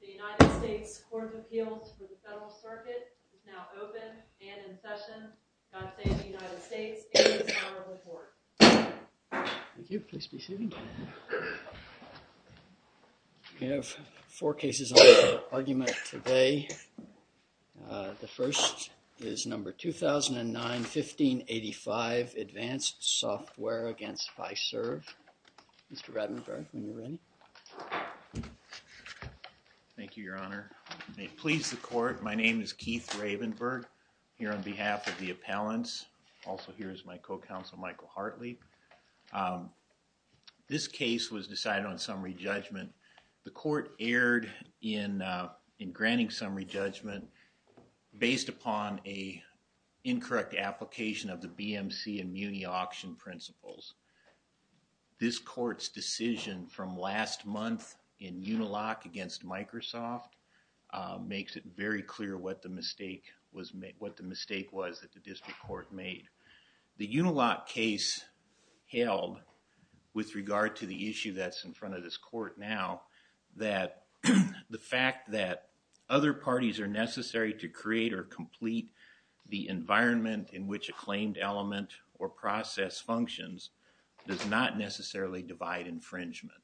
The United States Court of Appeals for the Federal Circuit is now open and in session. God save the United States and His Honorable Court. Thank you. Please be seated. We have four cases on the argument today. The first is number 2009-1585, ADVANCED SOFTWARE v. FISERV. Mr. Rattenberg, are you ready? Thank you, Your Honor. May it please the Court, my name is Keith Ravenberg, here on behalf of the appellants. Also here is my co-counsel Michael Hartley. This case was decided on summary judgment. The court erred in granting summary judgment based upon an incorrect application of the BMC and MUNI auction principles. This court's decision from last month in Unilock against Microsoft makes it very clear what the mistake was that the district court made. The Unilock case held, with regard to the issue that's in front of this court now, that the fact that other parties are necessary to create or complete the environment in which a claimed element or process functions does not necessarily divide infringement.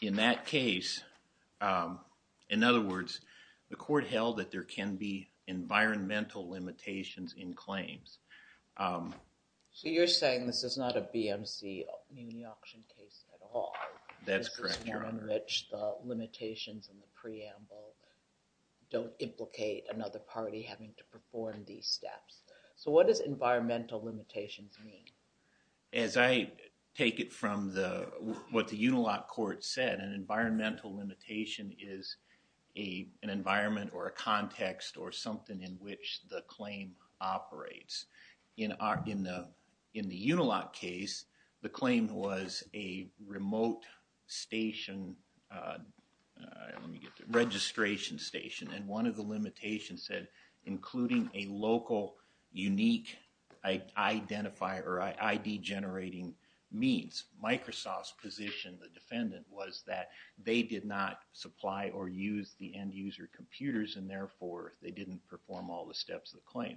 In that case, in other words, the court held that there can be environmental limitations in claims. So you're saying this is not a BMC MUNI auction case at all? That's correct, Your Honor. This is one in which the limitations in the preamble don't implicate another party having to perform these steps. So what does environmental limitations mean? As I take it from what the Unilock court said, an environmental limitation is an environment or a context or something in which the claim operates. In the Unilock case, the claim was a remote station, registration station, and one of the limitations said including a local unique identifier or ID-generating means. Microsoft's position, the defendant, was that they did not supply or use the end-user computers, and therefore they didn't perform all the steps of the claim.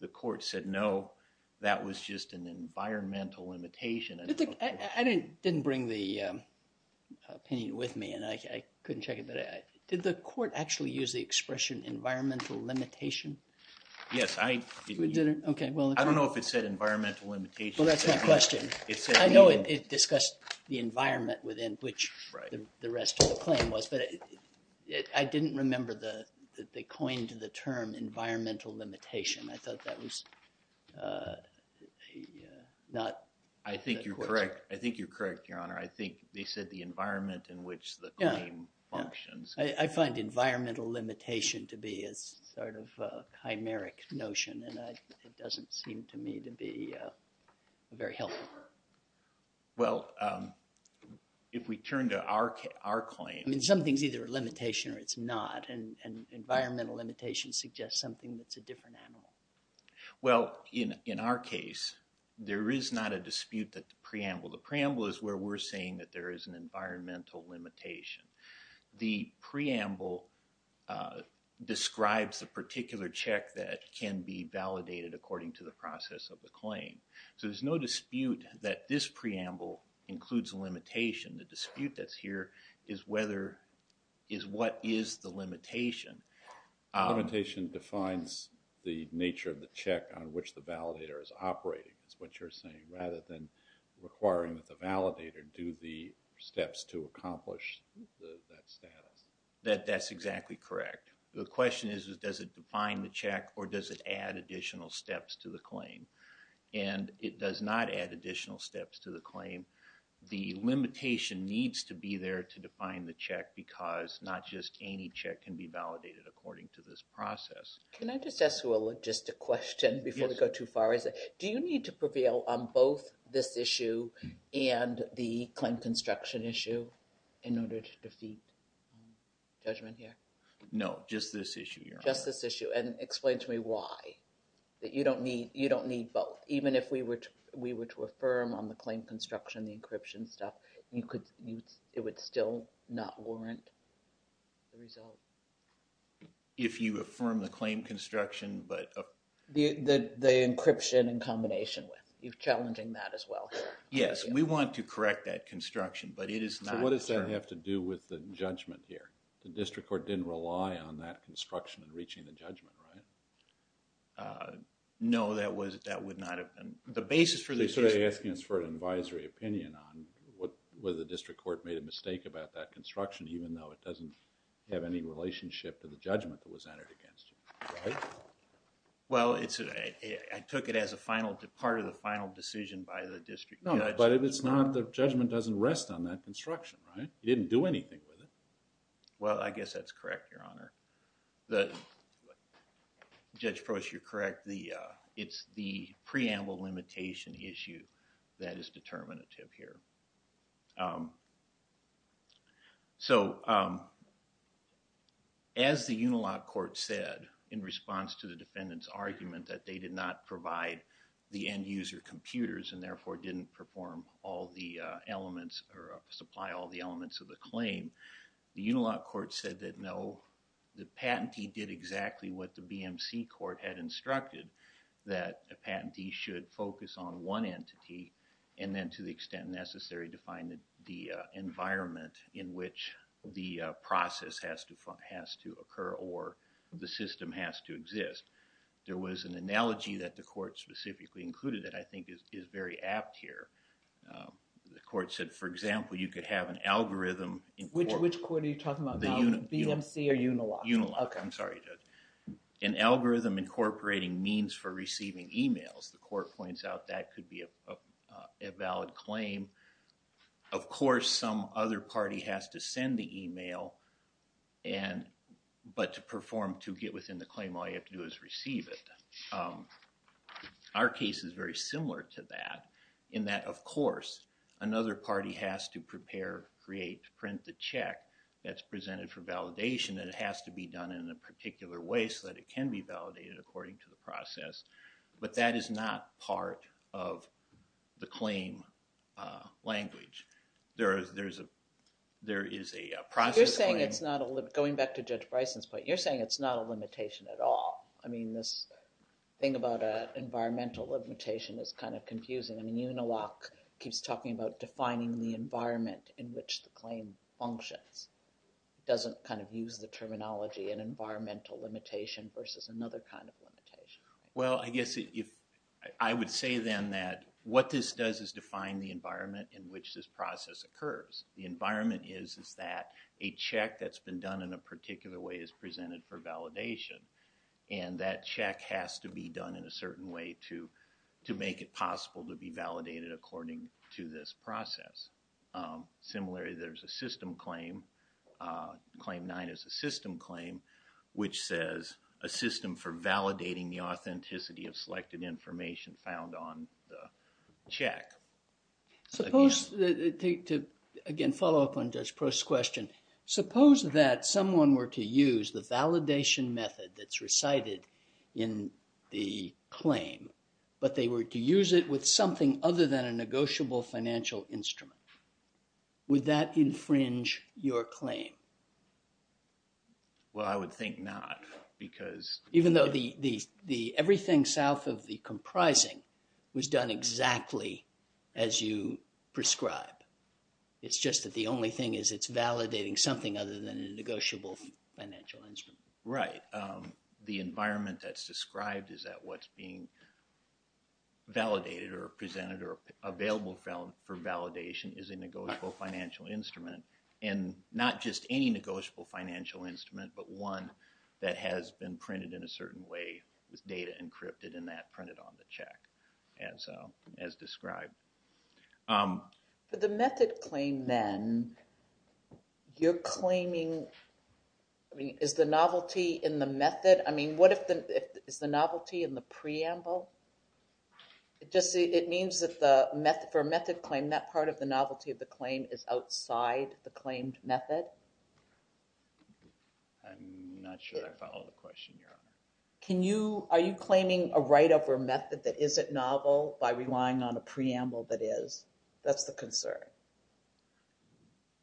The court said no, that was just an environmental limitation. I didn't bring the opinion with me and I couldn't check it, but did the court actually use the expression environmental limitation? Yes, I didn't. Okay, well. I don't know if it said environmental limitation. Well, that's my question. I know it discussed the environment within which the rest of the claim was, but I didn't remember that they coined the term environmental limitation. I thought that was not. I think you're correct. I think you're correct, Your Honor. I think they said the environment in which the claim functions. I find environmental limitation to be a sort of a chimeric notion, and it doesn't seem to me to be very helpful. Well, if we turn to our claim. I mean, something's either a limitation or it's not, and environmental limitation suggests something that's a different animal. Well, in our case, there is not a dispute that the preamble. The preamble is where we're saying that there is an environmental limitation. The preamble describes a particular check that can be validated according to the process of the claim. So there's no dispute that this preamble includes a limitation. The dispute that's here is what is the limitation. Limitation defines the nature of the check on which the validator is operating, is what you're saying, rather than requiring that the validator do the steps to accomplish that status. That's exactly correct. The question is, does it define the check or does it add additional steps to the claim? And it does not add additional steps to the claim. The limitation needs to be there to define the check because not just any check can be validated according to this process. Can I just ask you a logistic question before we go too far? Do you need to prevail on both this issue and the claim construction issue in order to defeat judgment here? No, just this issue, Your Honor. Just this issue. And explain to me why. You don't need both. Even if we were to affirm on the claim construction, the encryption stuff, it would still not warrant the result? If you affirm the claim construction, but... The encryption in combination with, you're challenging that as well. Yes, we want to correct that construction, but it is not... So what does that have to do with the judgment here? The district court didn't rely on that construction in reaching the judgment, right? No, that would not have been. The basis for this is... You're sort of asking us for an advisory opinion on whether the district court made a mistake about that construction even though it doesn't have any relationship to the judgment that was entered against you, right? Well, I took it as a final, part of the final decision by the district judge. No, but if it's not, the judgment doesn't rest on that construction, right? It didn't do anything with it. Well, I guess that's correct, Your Honor. Judge Proce, you're correct. It's the preamble limitation issue that is determinative here. So, as the Unilock court said in response to the defendant's argument that they did not provide the end user computers and therefore didn't perform all the elements or supply all the elements of the claim, the Unilock court said that no, the patentee did exactly what the BMC court had instructed, that a patentee should focus on one entity and then to the extent necessary to find the environment in which the process has to occur or the system has to exist. There was an analogy that the court specifically included that I think is very apt here. The court said, for example, you could have an algorithm. Which court are you talking about, BMC or Unilock? Unilock, I'm sorry, Judge. An algorithm incorporating means for receiving emails. The court points out that could be a valid claim. Of course, some other party has to send the email and but to perform, to get within the claim, all you have to do is receive it. Our case is very similar to that in that, of course, another party has to prepare, create, print the check that's presented for validation and it has to be done in a particular way so that it can be validated according to the process. But that is not part of the claim language. There is a process claim. Going back to Judge Bryson's point, you're saying it's not a limitation at all. I mean, this thing about an environmental limitation is kind of confusing. I mean, Unilock keeps talking about defining the environment in which the claim functions. It doesn't kind of use the terminology and environmental limitation versus another kind of limitation. Well, I guess I would say then that what this does is define the environment in which this process occurs. The environment is that a check that's been done in a particular way is presented for validation and that check has to be done in a certain way to make it possible to be validated according to this process. Similarly, there's a system claim. Claim 9 is a system claim which says, a system for validating the authenticity of selected information found on the check. To again follow up on Judge Prost's question, suppose that someone were to use the validation method that's recited in the claim, but they were to use it with something other than a negotiable financial instrument. Would that infringe your claim? Well, I would think not because... everything south of the comprising was done exactly as you prescribe. It's just that the only thing is it's validating something other than a negotiable financial instrument. Right. The environment that's described is that what's being validated or presented or available for validation is a negotiable financial instrument and not just any negotiable financial instrument, but one that has been printed in a certain way, with data encrypted in that printed on the check as described. For the method claim then, you're claiming... I mean, is the novelty in the method? I mean, what if the... is the novelty in the preamble? It means that for a method claim, that part of the novelty of the claim is outside the claimed method? I'm not sure I follow the question. Are you claiming a write-up or method that isn't novel by relying on a preamble that is? That's the concern.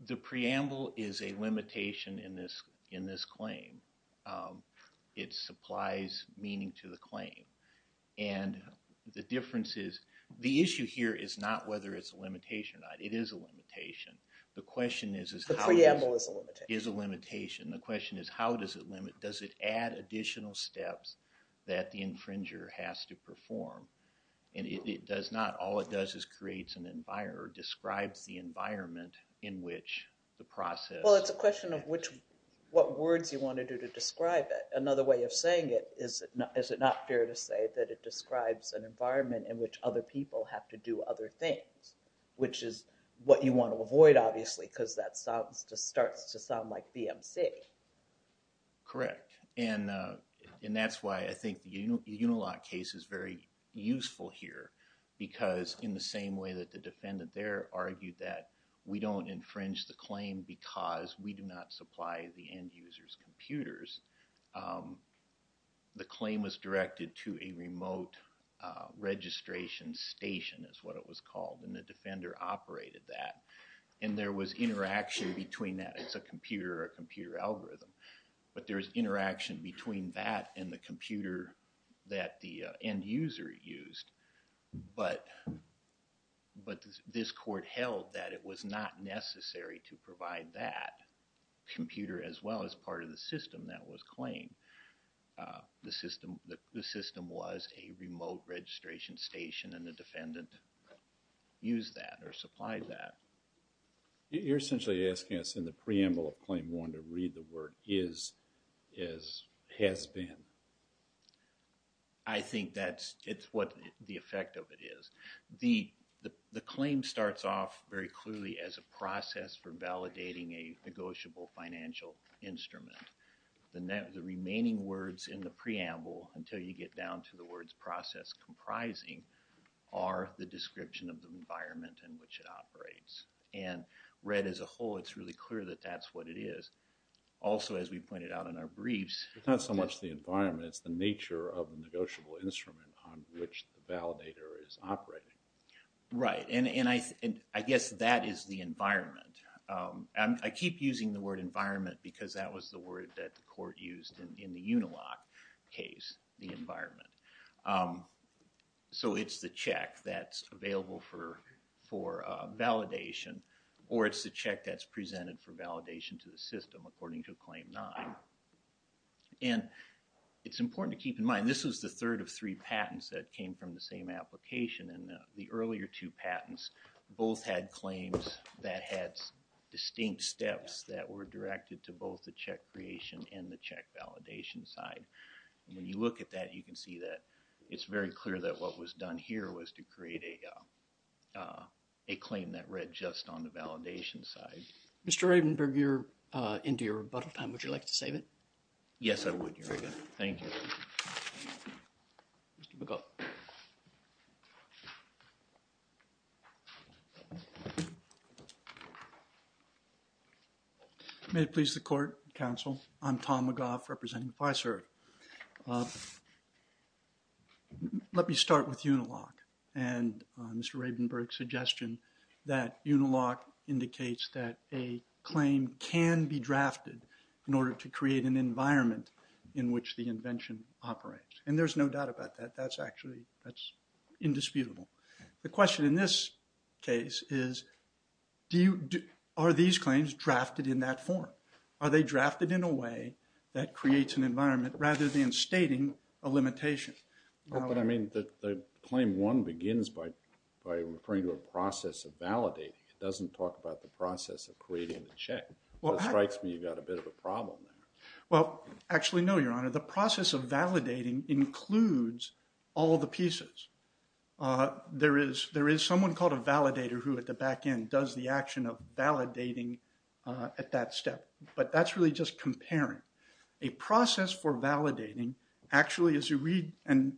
The preamble is a limitation in this claim. It supplies meaning to the claim. And the difference is, the issue here is not whether it's a limitation or not. It is a limitation. The question is... The preamble is a limitation. ...is a limitation. The question is, how does it limit? Does it add additional steps that the infringer has to perform? And it does not. All it does is creates an environment or describes the environment in which the process... Well, it's a question of which... what words you want to do to describe it. Another way of saying it is, is it not fair to say that it describes an environment in which other people have to do other things? Which is what you want to avoid, obviously, because that sounds... just starts to sound like BMC. Correct. And that's why I think the Unilock case is very useful here. Because in the same way that the defendant there argued that we don't infringe the claim because we do not supply the end user's computers, the claim was directed to a remote registration station, is what it was called. And the defender operated that. And there was interaction between that. It's a computer or a computer algorithm. But there's interaction between that and the computer that the end user used. But, but this court held that it was not necessary to provide that computer as well as part of the system that was claimed. The system, the system was a remote registration station and the defendant used that or supplied that. You're essentially asking us in the preamble of claim one to read the word is as has been. I think that's, it's what the effect of it is. The claim starts off very clearly as a process for validating a negotiable financial instrument. The remaining words in the preamble until you get down to the words process comprising are the description of the environment in which it operates. And read as a whole, it's really clear that that's what it is. Also, as we pointed out in our briefs. It's not so much the environment, it's the nature of the negotiable instrument on which the validator is operating. And I guess that is the environment. I keep using the word environment because that was the word that the court used in the Unilock case, the environment. So it's the check that's available for validation or it's the check that's presented for validation to the system according to claim nine. And it's important to keep in mind this was the third of three patents that came from the same application. And the earlier two patents both had claims that had distinct steps that were directed to both the check creation and the check validation side. And when you look at that, you can see that it's very clear that what was done here was to create a claim that read just on the validation side. Mr. Ravenberg, you're into your rebuttal time. Would you like to save it? Yes, I would, Your Honor. Thank you. Mr. McGaugh. May it please the court, counsel. I'm Tom McGaugh representing FISER. Let me start with Unilock and Mr. Ravenberg's suggestion that Unilock indicates that a claim can be drafted in order to create an environment in which the invention operates. And there's no doubt about that. That's actually, that's indisputable. The question in this case is, are these claims drafted in that form? Are they drafted in a way that creates an environment rather than stating a limitation? But I mean, the claim one begins by referring to a process of validating. It doesn't talk about the process of creating the check. It strikes me you've got a bit of a problem there. Well, actually, no, Your Honor. The process of validating includes all the pieces. There is someone called a validator who at the back end does the action of validating at that step. But that's really just comparing. A process for validating actually, as you read and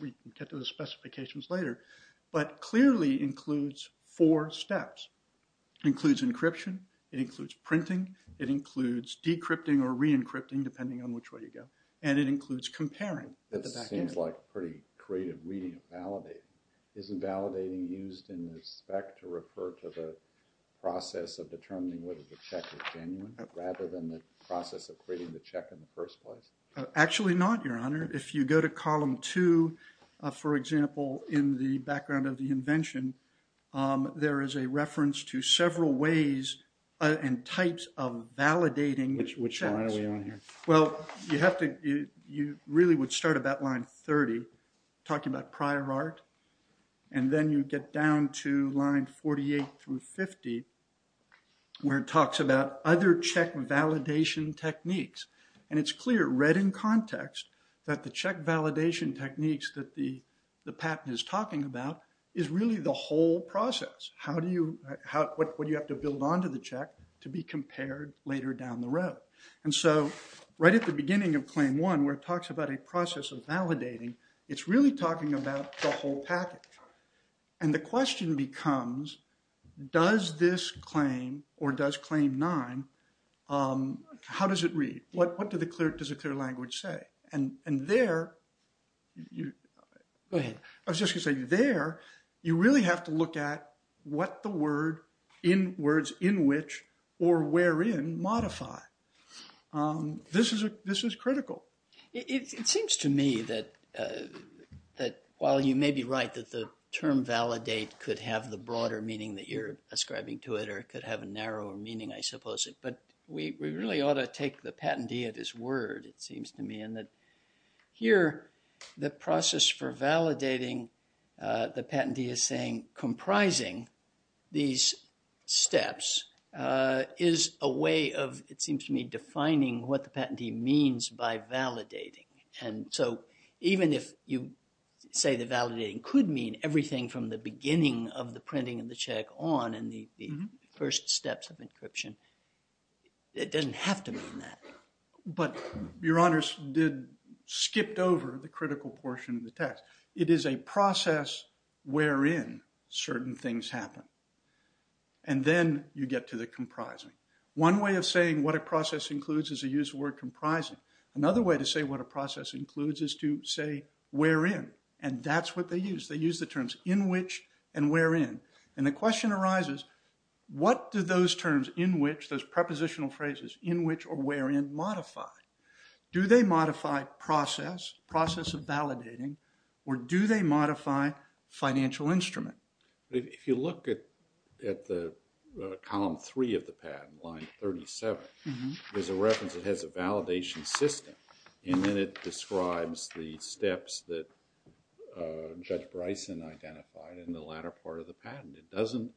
we can get to the specifications later, but clearly includes four steps. It includes encryption. It includes printing. It includes decrypting or re-encrypting, depending on which way you go. And it includes comparing at the back end. That seems like pretty creative reading of validating. Isn't validating used in respect to refer to the process of determining whether the check is genuine rather than the process of creating the check in the first place? Actually not, Your Honor. If you go to column two, for example, in the background of the invention, there is a reference to several ways and types of validating. Which one are we on here? Well, you really would start about line 30, talking about prior art. And then you get down to line 48 through 50, where it talks about other check validation techniques. And it's clear, read in context, that the check validation techniques that the patent is talking about is really the whole process. What do you have to build onto the check to be compared later down the road? And so right at the beginning of claim one, where it talks about a process of validating, it's really talking about the whole package. And the question becomes, does this claim or does claim nine, how does it read? What does a clear language say? And there, I was just going to say, there, you really have to look at what the words in which or wherein modify. This is critical. It seems to me that while you may be right that the term validate could have the broader meaning that you're ascribing to it, or it could have a narrower meaning, I suppose, but we really ought to take the patentee at his word, it seems to me. And that here, the process for validating the patentee is saying comprising these steps is a way of, it seems to me, defining what the patentee means by validating. And so even if you say the validating could mean everything from the beginning of the printing of the check on in the first steps of encryption, it doesn't have to mean that. But Your Honors did, skipped over the critical portion of the text. It is a process wherein certain things happen. And then you get to the comprising. One way of saying what a process includes is to use the word comprising. Another way to say what a process includes is to say wherein. And that's what they use. They use the terms in which and wherein. And the question arises, what do those terms in which, those prepositional phrases in which or wherein, modify? Do they modify process, process of validating, or do they modify financial instrument? If you look at the column three of the patent, line 37, there's a reference that has a validation system. And then it describes the steps that Judge Bryson identified in the latter part of the patent. It doesn't,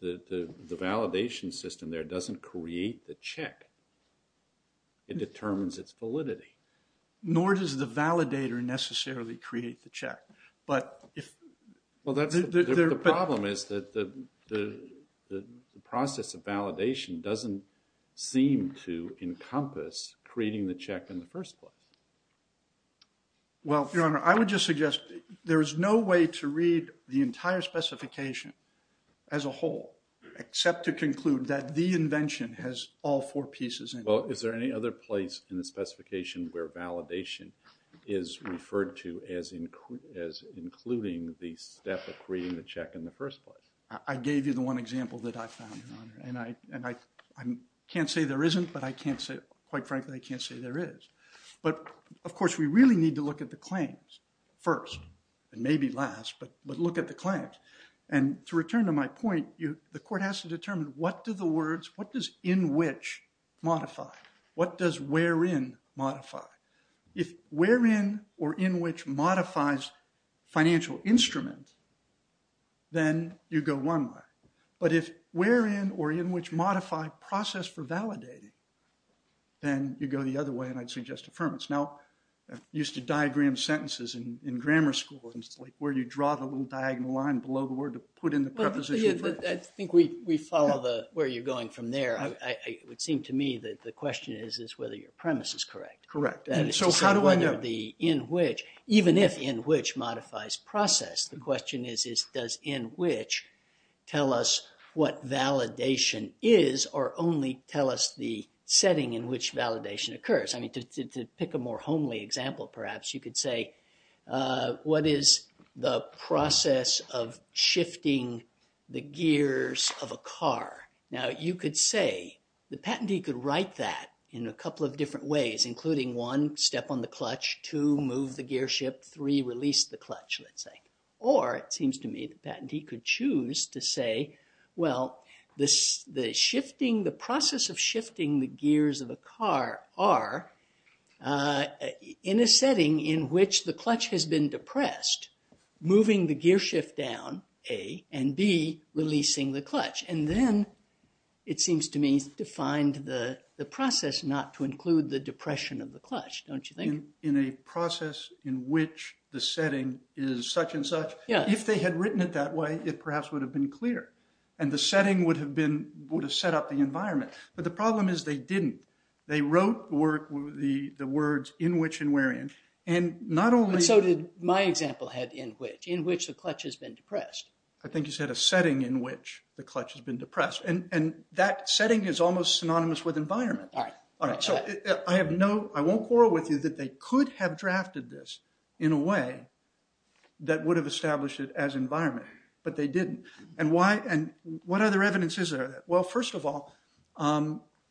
the validation system there doesn't create the check. It determines its validity. Well, the problem is that the process of validation doesn't seem to encompass creating the check in the first place. Well, Your Honor, I would just suggest there is no way to read the entire specification as a whole, except to conclude that the invention has all four pieces in it. Well, is there any other place in the specification where validation is referred to as including the step of creating the check in the first place? I gave you the one example that I found, Your Honor. And I can't say there isn't, but I can't say, quite frankly, I can't say there is. But, of course, we really need to look at the claims first, and maybe last, but look at the claims. And to return to my point, the court has to determine what do the words, what does in which modify? What does wherein modify? If wherein or in which modifies financial instrument, then you go one way. But if wherein or in which modify process for validating, then you go the other way, and I'd suggest affirmance. Now, I used to diagram sentences in grammar school, where you draw the little diagonal line below the word to put in the preposition. I think we follow where you're going from there. It would seem to me that the question is whether your premise is correct. Correct. So how do I know? Even if in which modifies process, the question is, does in which tell us what validation is, or only tell us the setting in which validation occurs? I mean, to pick a more homely example, perhaps, you could say, what is the process of shifting the gears of a car? Now, you could say, the patentee could write that in a couple of different ways, including one, step on the clutch, two, move the gearshift, three, release the clutch, let's say. Or, it seems to me, the patentee could choose to say, well, the process of shifting the gears of a car are in a setting in which the clutch has been depressed, moving the gearshift down, A, and B, releasing the clutch. And then it seems to me to find the process not to include the depression of the clutch, don't you think? In a process in which the setting is such and such. Yeah. If they had written it that way, it perhaps would have been clear. And the setting would have set up the environment. But the problem is they didn't. They wrote the words in which and wherein. And so did my example had in which, in which the clutch has been depressed. I think you said a setting in which the clutch has been depressed. And that setting is almost synonymous with environment. All right. So I have no, I won't quarrel with you that they could have drafted this in a way that would have established it as environment. But they didn't. And why, and what other evidence is there? Well, first of all,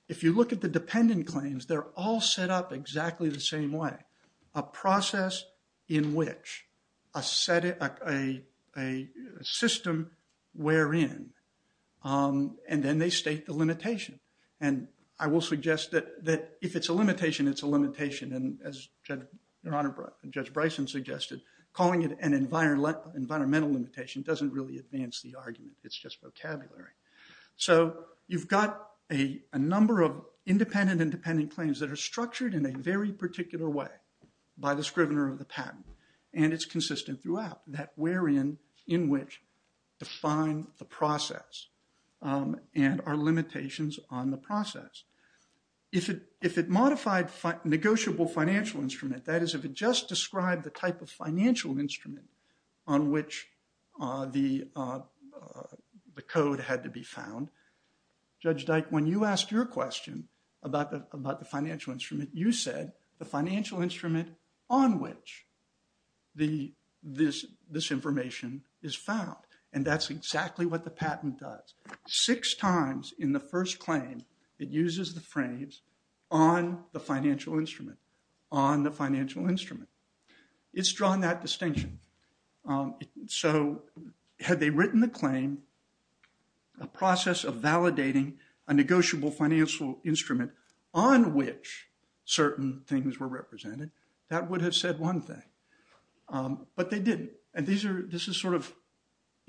if you look at the dependent claims, they're all set up exactly the same way. A process in which, a setting, a system wherein. And then they state the limitation. And I will suggest that if it's a limitation, it's a limitation. And as Judge Bryson suggested, calling it an environmental limitation doesn't really advance the argument. It's just vocabulary. So you've got a number of independent and dependent claims that are structured in a very particular way by the scrivener of the patent. And it's consistent throughout, that wherein, in which, define the process and our limitations on the process. If it modified negotiable financial instrument, that is, if it just described the type of financial instrument on which the code had to be found. Judge Dyke, when you asked your question about the financial instrument, you said the financial instrument on which this information is found. And that's exactly what the patent does. Six times in the first claim, it uses the frames on the financial instrument, on the financial instrument. It's drawn that distinction. So had they written the claim, a process of validating a negotiable financial instrument on which certain things were represented, that would have said one thing. But they didn't. And this is sort of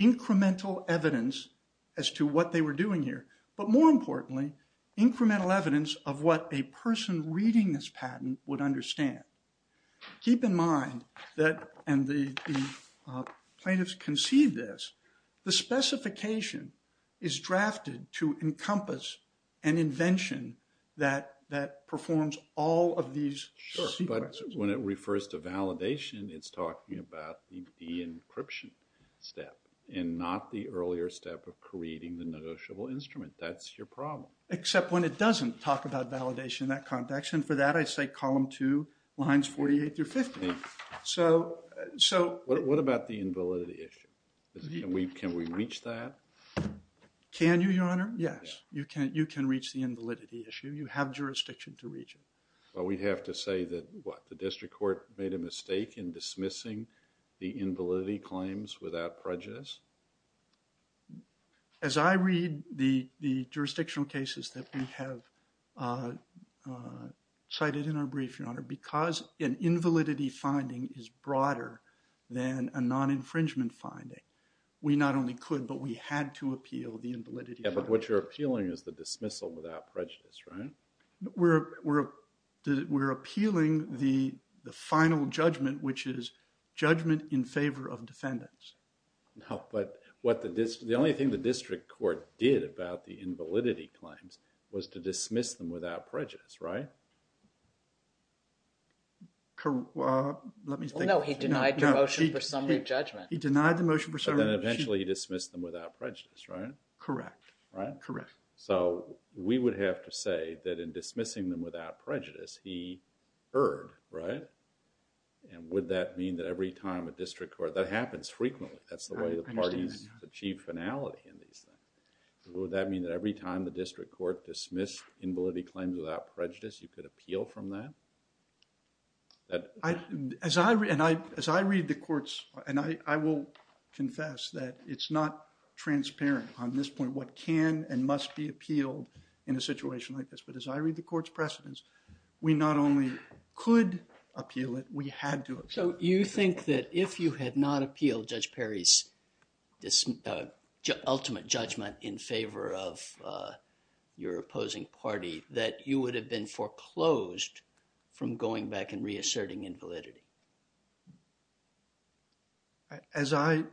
incremental evidence as to what they were doing here. But more importantly, incremental evidence of what a person reading this patent would understand. Keep in mind that, and the plaintiffs conceived this, the specification is drafted to encompass an invention that performs all of these sequences. Sure, but when it refers to validation, it's talking about the encryption step and not the earlier step of creating the negotiable instrument. That's your problem. Except when it doesn't talk about validation in that context. And for that, I say column two, lines 48 through 50. What about the invalidity issue? Can we reach that? Can you, your honor? Yes, you can reach the invalidity issue. You have jurisdiction to reach it. But we have to say that, what, the district court made a mistake in dismissing the invalidity claims without prejudice? As I read the jurisdictional cases that we have cited in our brief, your honor, because an invalidity finding is broader than a non-infringement finding, we not only could, but we had to appeal the invalidity finding. Yeah, but what you're appealing is the dismissal without prejudice, right? We're appealing the final judgment, which is judgment in favor of defendants. No, but what the district, the only thing the district court did about the invalidity claims was to dismiss them without prejudice, right? Let me think. No, he denied the motion for summary of judgment. He denied the motion for summary of judgment. But then eventually he dismissed them without prejudice, right? Correct. Right? Correct. So, we would have to say that in dismissing them without prejudice, he erred, right? And would that mean that every time a district court, that happens frequently. That's the way the parties achieve finality in these things. Would that mean that every time the district court dismissed invalidity claims without prejudice, you could appeal from that? As I read the courts, and I will confess that it's not transparent on this point what can and must be appealed in a situation like this. But as I read the court's precedents, we not only could appeal it, we had to appeal it. So, you think that if you had not appealed Judge Perry's ultimate judgment in favor of your opposing party, that you would have been foreclosed from going back and reasserting invalidity? As I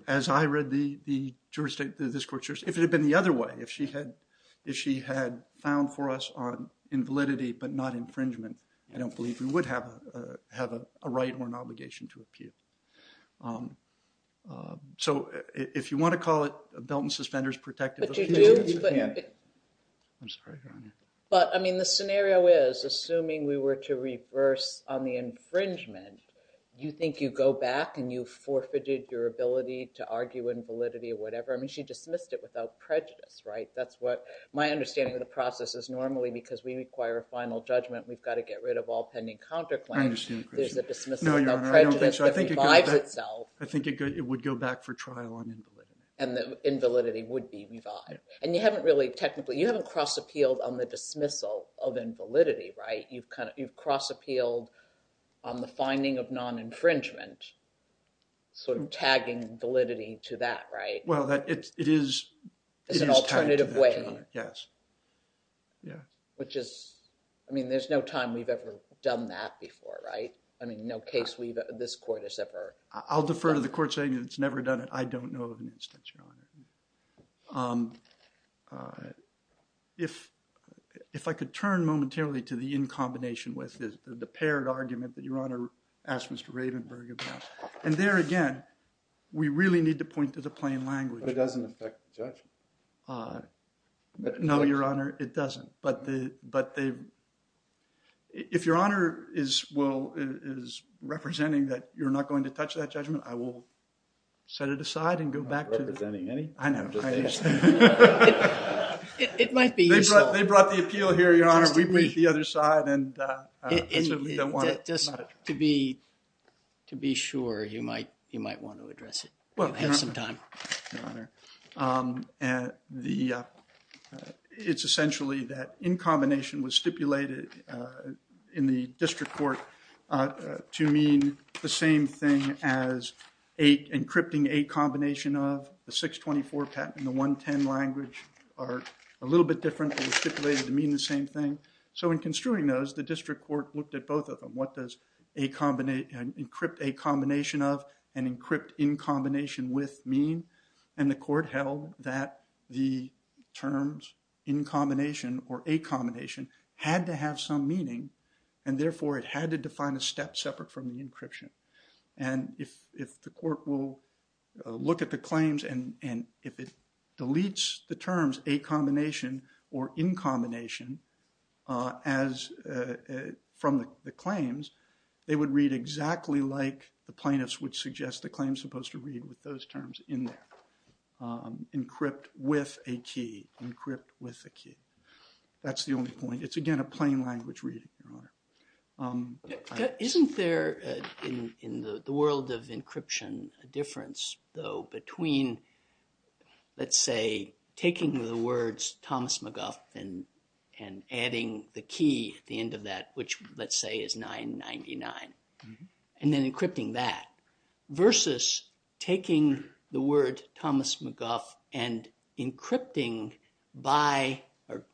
read the jurisdiction, if it had been the other way, if she had found for us on invalidity but not infringement, I don't believe we would have a right or an obligation to appeal. So, if you want to call it a belt and suspenders protective appeal, you can. I'm sorry, Your Honor. But, I mean, the scenario is, assuming we were to reverse on the infringement, you think you go back and you forfeited your ability to argue invalidity or whatever? I mean, she dismissed it without prejudice, right? That's what my understanding of the process is normally because we require a final judgment. We've got to get rid of all pending counterclaims. There's a dismissal without prejudice that revives itself. I think it would go back for trial on invalidity. And the invalidity would be revived. And you haven't really technically, you haven't cross-appealed on the dismissal of invalidity, right? You've kind of, you've cross-appealed on the finding of non-infringement, sort of tagging validity to that, right? Well, it is, it is tagged to that, Your Honor. As an alternative way. Yes. Yeah. Which is, I mean, there's no time we've ever done that before, right? I mean, no case we've, this court has ever. I'll defer to the court saying it's never done it. I don't know of an instance, Your Honor. If, if I could turn momentarily to the in combination with the paired argument that Your Honor asked Mr. Ravenberg about. And there again, we really need to point to the plain language. But it doesn't affect the judgment. No, Your Honor, it doesn't. But the, but the, if Your Honor is, will, is representing that you're not going to touch that judgment, I will set it aside and go back to the. I know. It might be useful. They brought, they brought the appeal here, Your Honor. We went to the other side and. Just to be, to be sure, you might, you might want to address it. Well, I have some time. Your Honor, it's essentially that in combination was stipulated in the district court to mean the same thing as encrypting a combination of. The 624 patent and the 110 language are a little bit different and stipulated to mean the same thing. So, in construing those, the district court looked at both of them. What does a combination, encrypt a combination of and encrypt in combination with mean? And the court held that the terms in combination or a combination had to have some meaning. And therefore, it had to define a step separate from the encryption. And if, if the court will look at the claims and if it deletes the terms, a combination or in combination as from the claims, they would read exactly like the plaintiffs would suggest the claims supposed to read with those terms in there. Encrypt with a key, encrypt with a key. That's the only point. It's again a plain language reading. Isn't there in the world of encryption a difference, though, between, let's say, taking the words Thomas McGuff and adding the key at the end of that, which let's say is 999. And then encrypting that versus taking the word Thomas McGuff and encrypting by or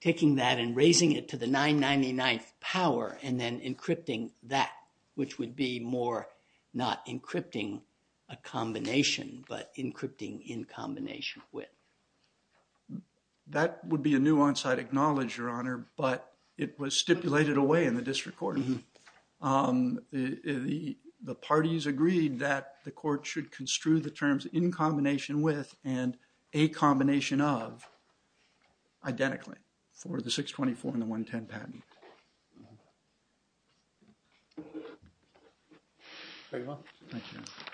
taking that and raising it to the 999th power and then encrypting that, which would be more not encrypting a combination, but encrypting in combination with. That would be a nuance I'd acknowledge, Your Honor, but it was stipulated away in the district court. The parties agreed that the court should construe the terms in combination with and a combination of identically for the 624 and the 110 patent. Thank you.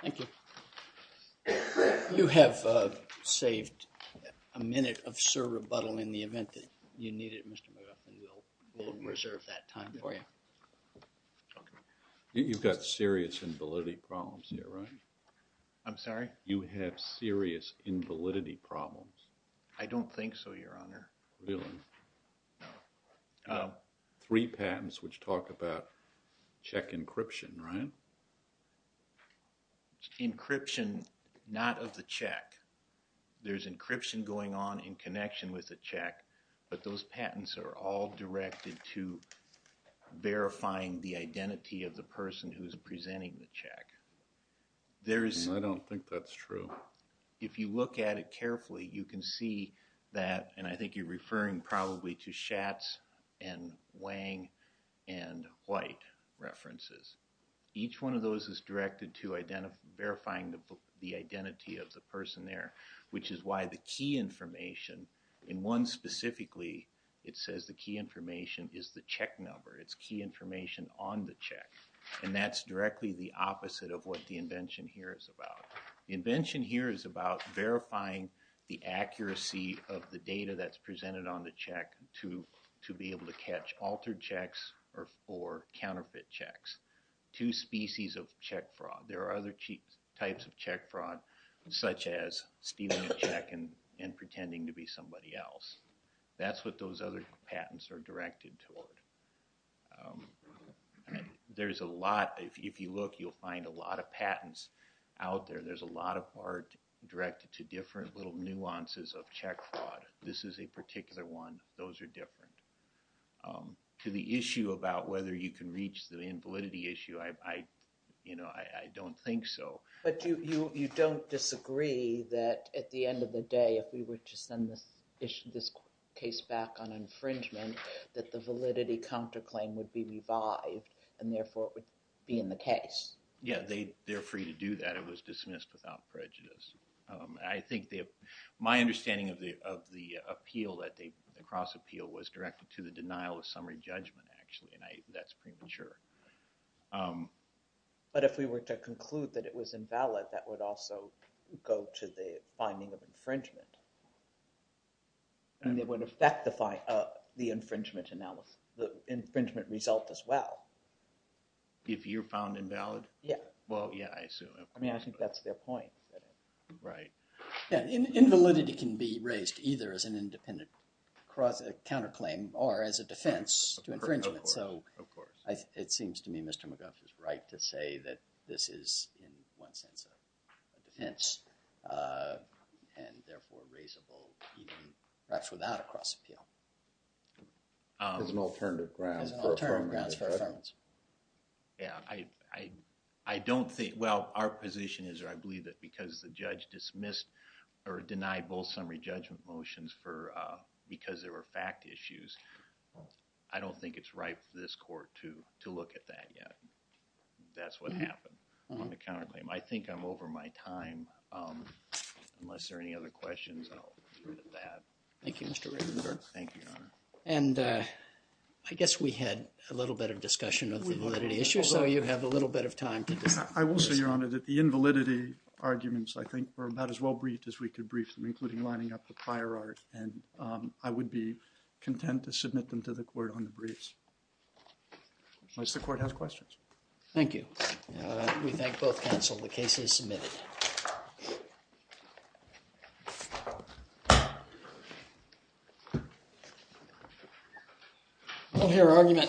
Thank you. You have saved a minute of sir rebuttal in the event that you need it, Mr. McGuff, and we'll reserve that time for you. You've got serious invalidity problems here, right? I'm sorry? You have serious invalidity problems. I don't think so, Your Honor. Really? No. Three patents which talk about check encryption, right? Encryption, not of the check. There's encryption going on in connection with the check, but those patents are all directed to verifying the identity of the person who is presenting the check. I don't think that's true. If you look at it carefully, you can see that, and I think you're referring probably to Schatz and Wang and White references. Each one of those is directed to verifying the identity of the person there, which is why the key information in one specifically, it says the key information is the check number. It's key information on the check, and that's directly the opposite of what the invention here is about. The invention here is about verifying the accuracy of the data that's presented on the check to be able to catch altered checks or counterfeit checks. Two species of check fraud. There are other types of check fraud, such as stealing a check and pretending to be somebody else. That's what those other patents are directed toward. If you look, you'll find a lot of patents out there. There's a lot of art directed to different little nuances of check fraud. This is a particular one. Those are different. To the issue about whether you can reach the invalidity issue, I don't think so. But you don't disagree that at the end of the day, if we were to send this case back on infringement, that the validity counterclaim would be revived, and therefore it would be in the case? Yeah, they're free to do that. It was dismissed without prejudice. I think my understanding of the appeal, the cross appeal, was directed to the denial of summary judgment, actually, and that's premature. But if we were to conclude that it was invalid, that would also go to the finding of infringement, and it would affect the infringement result as well. If you're found invalid? Yeah. Well, yeah, I assume. I mean, I think that's their point. Right. Invalidity can be raised either as an independent counterclaim or as a defense to infringement. Of course. It seems to me Mr. McGuff is right to say that this is, in one sense, a defense, and therefore raisable even perhaps without a cross appeal. As an alternative grounds for affirmation. As an alternative grounds for affirmation. Yeah, I don't think, well, our position is that I believe that because the judge dismissed or denied both summary judgment motions because there were fact issues, I don't think it's right for this court to look at that yet. That's what happened on the counterclaim. I think I'm over my time. Unless there are any other questions, I'll leave it at that. Thank you, Mr. Rickenberg. Thank you, Your Honor. And I guess we had a little bit of discussion of the validity issue, so you have a little bit of time to discuss. I will say, Your Honor, that the invalidity arguments, I think, were about as well briefed as we could brief them, including lining up the prior art. And I would be content to submit them to the court on the briefs. Unless the court has questions. Thank you. We thank both counsel. The case is submitted. Move your argument.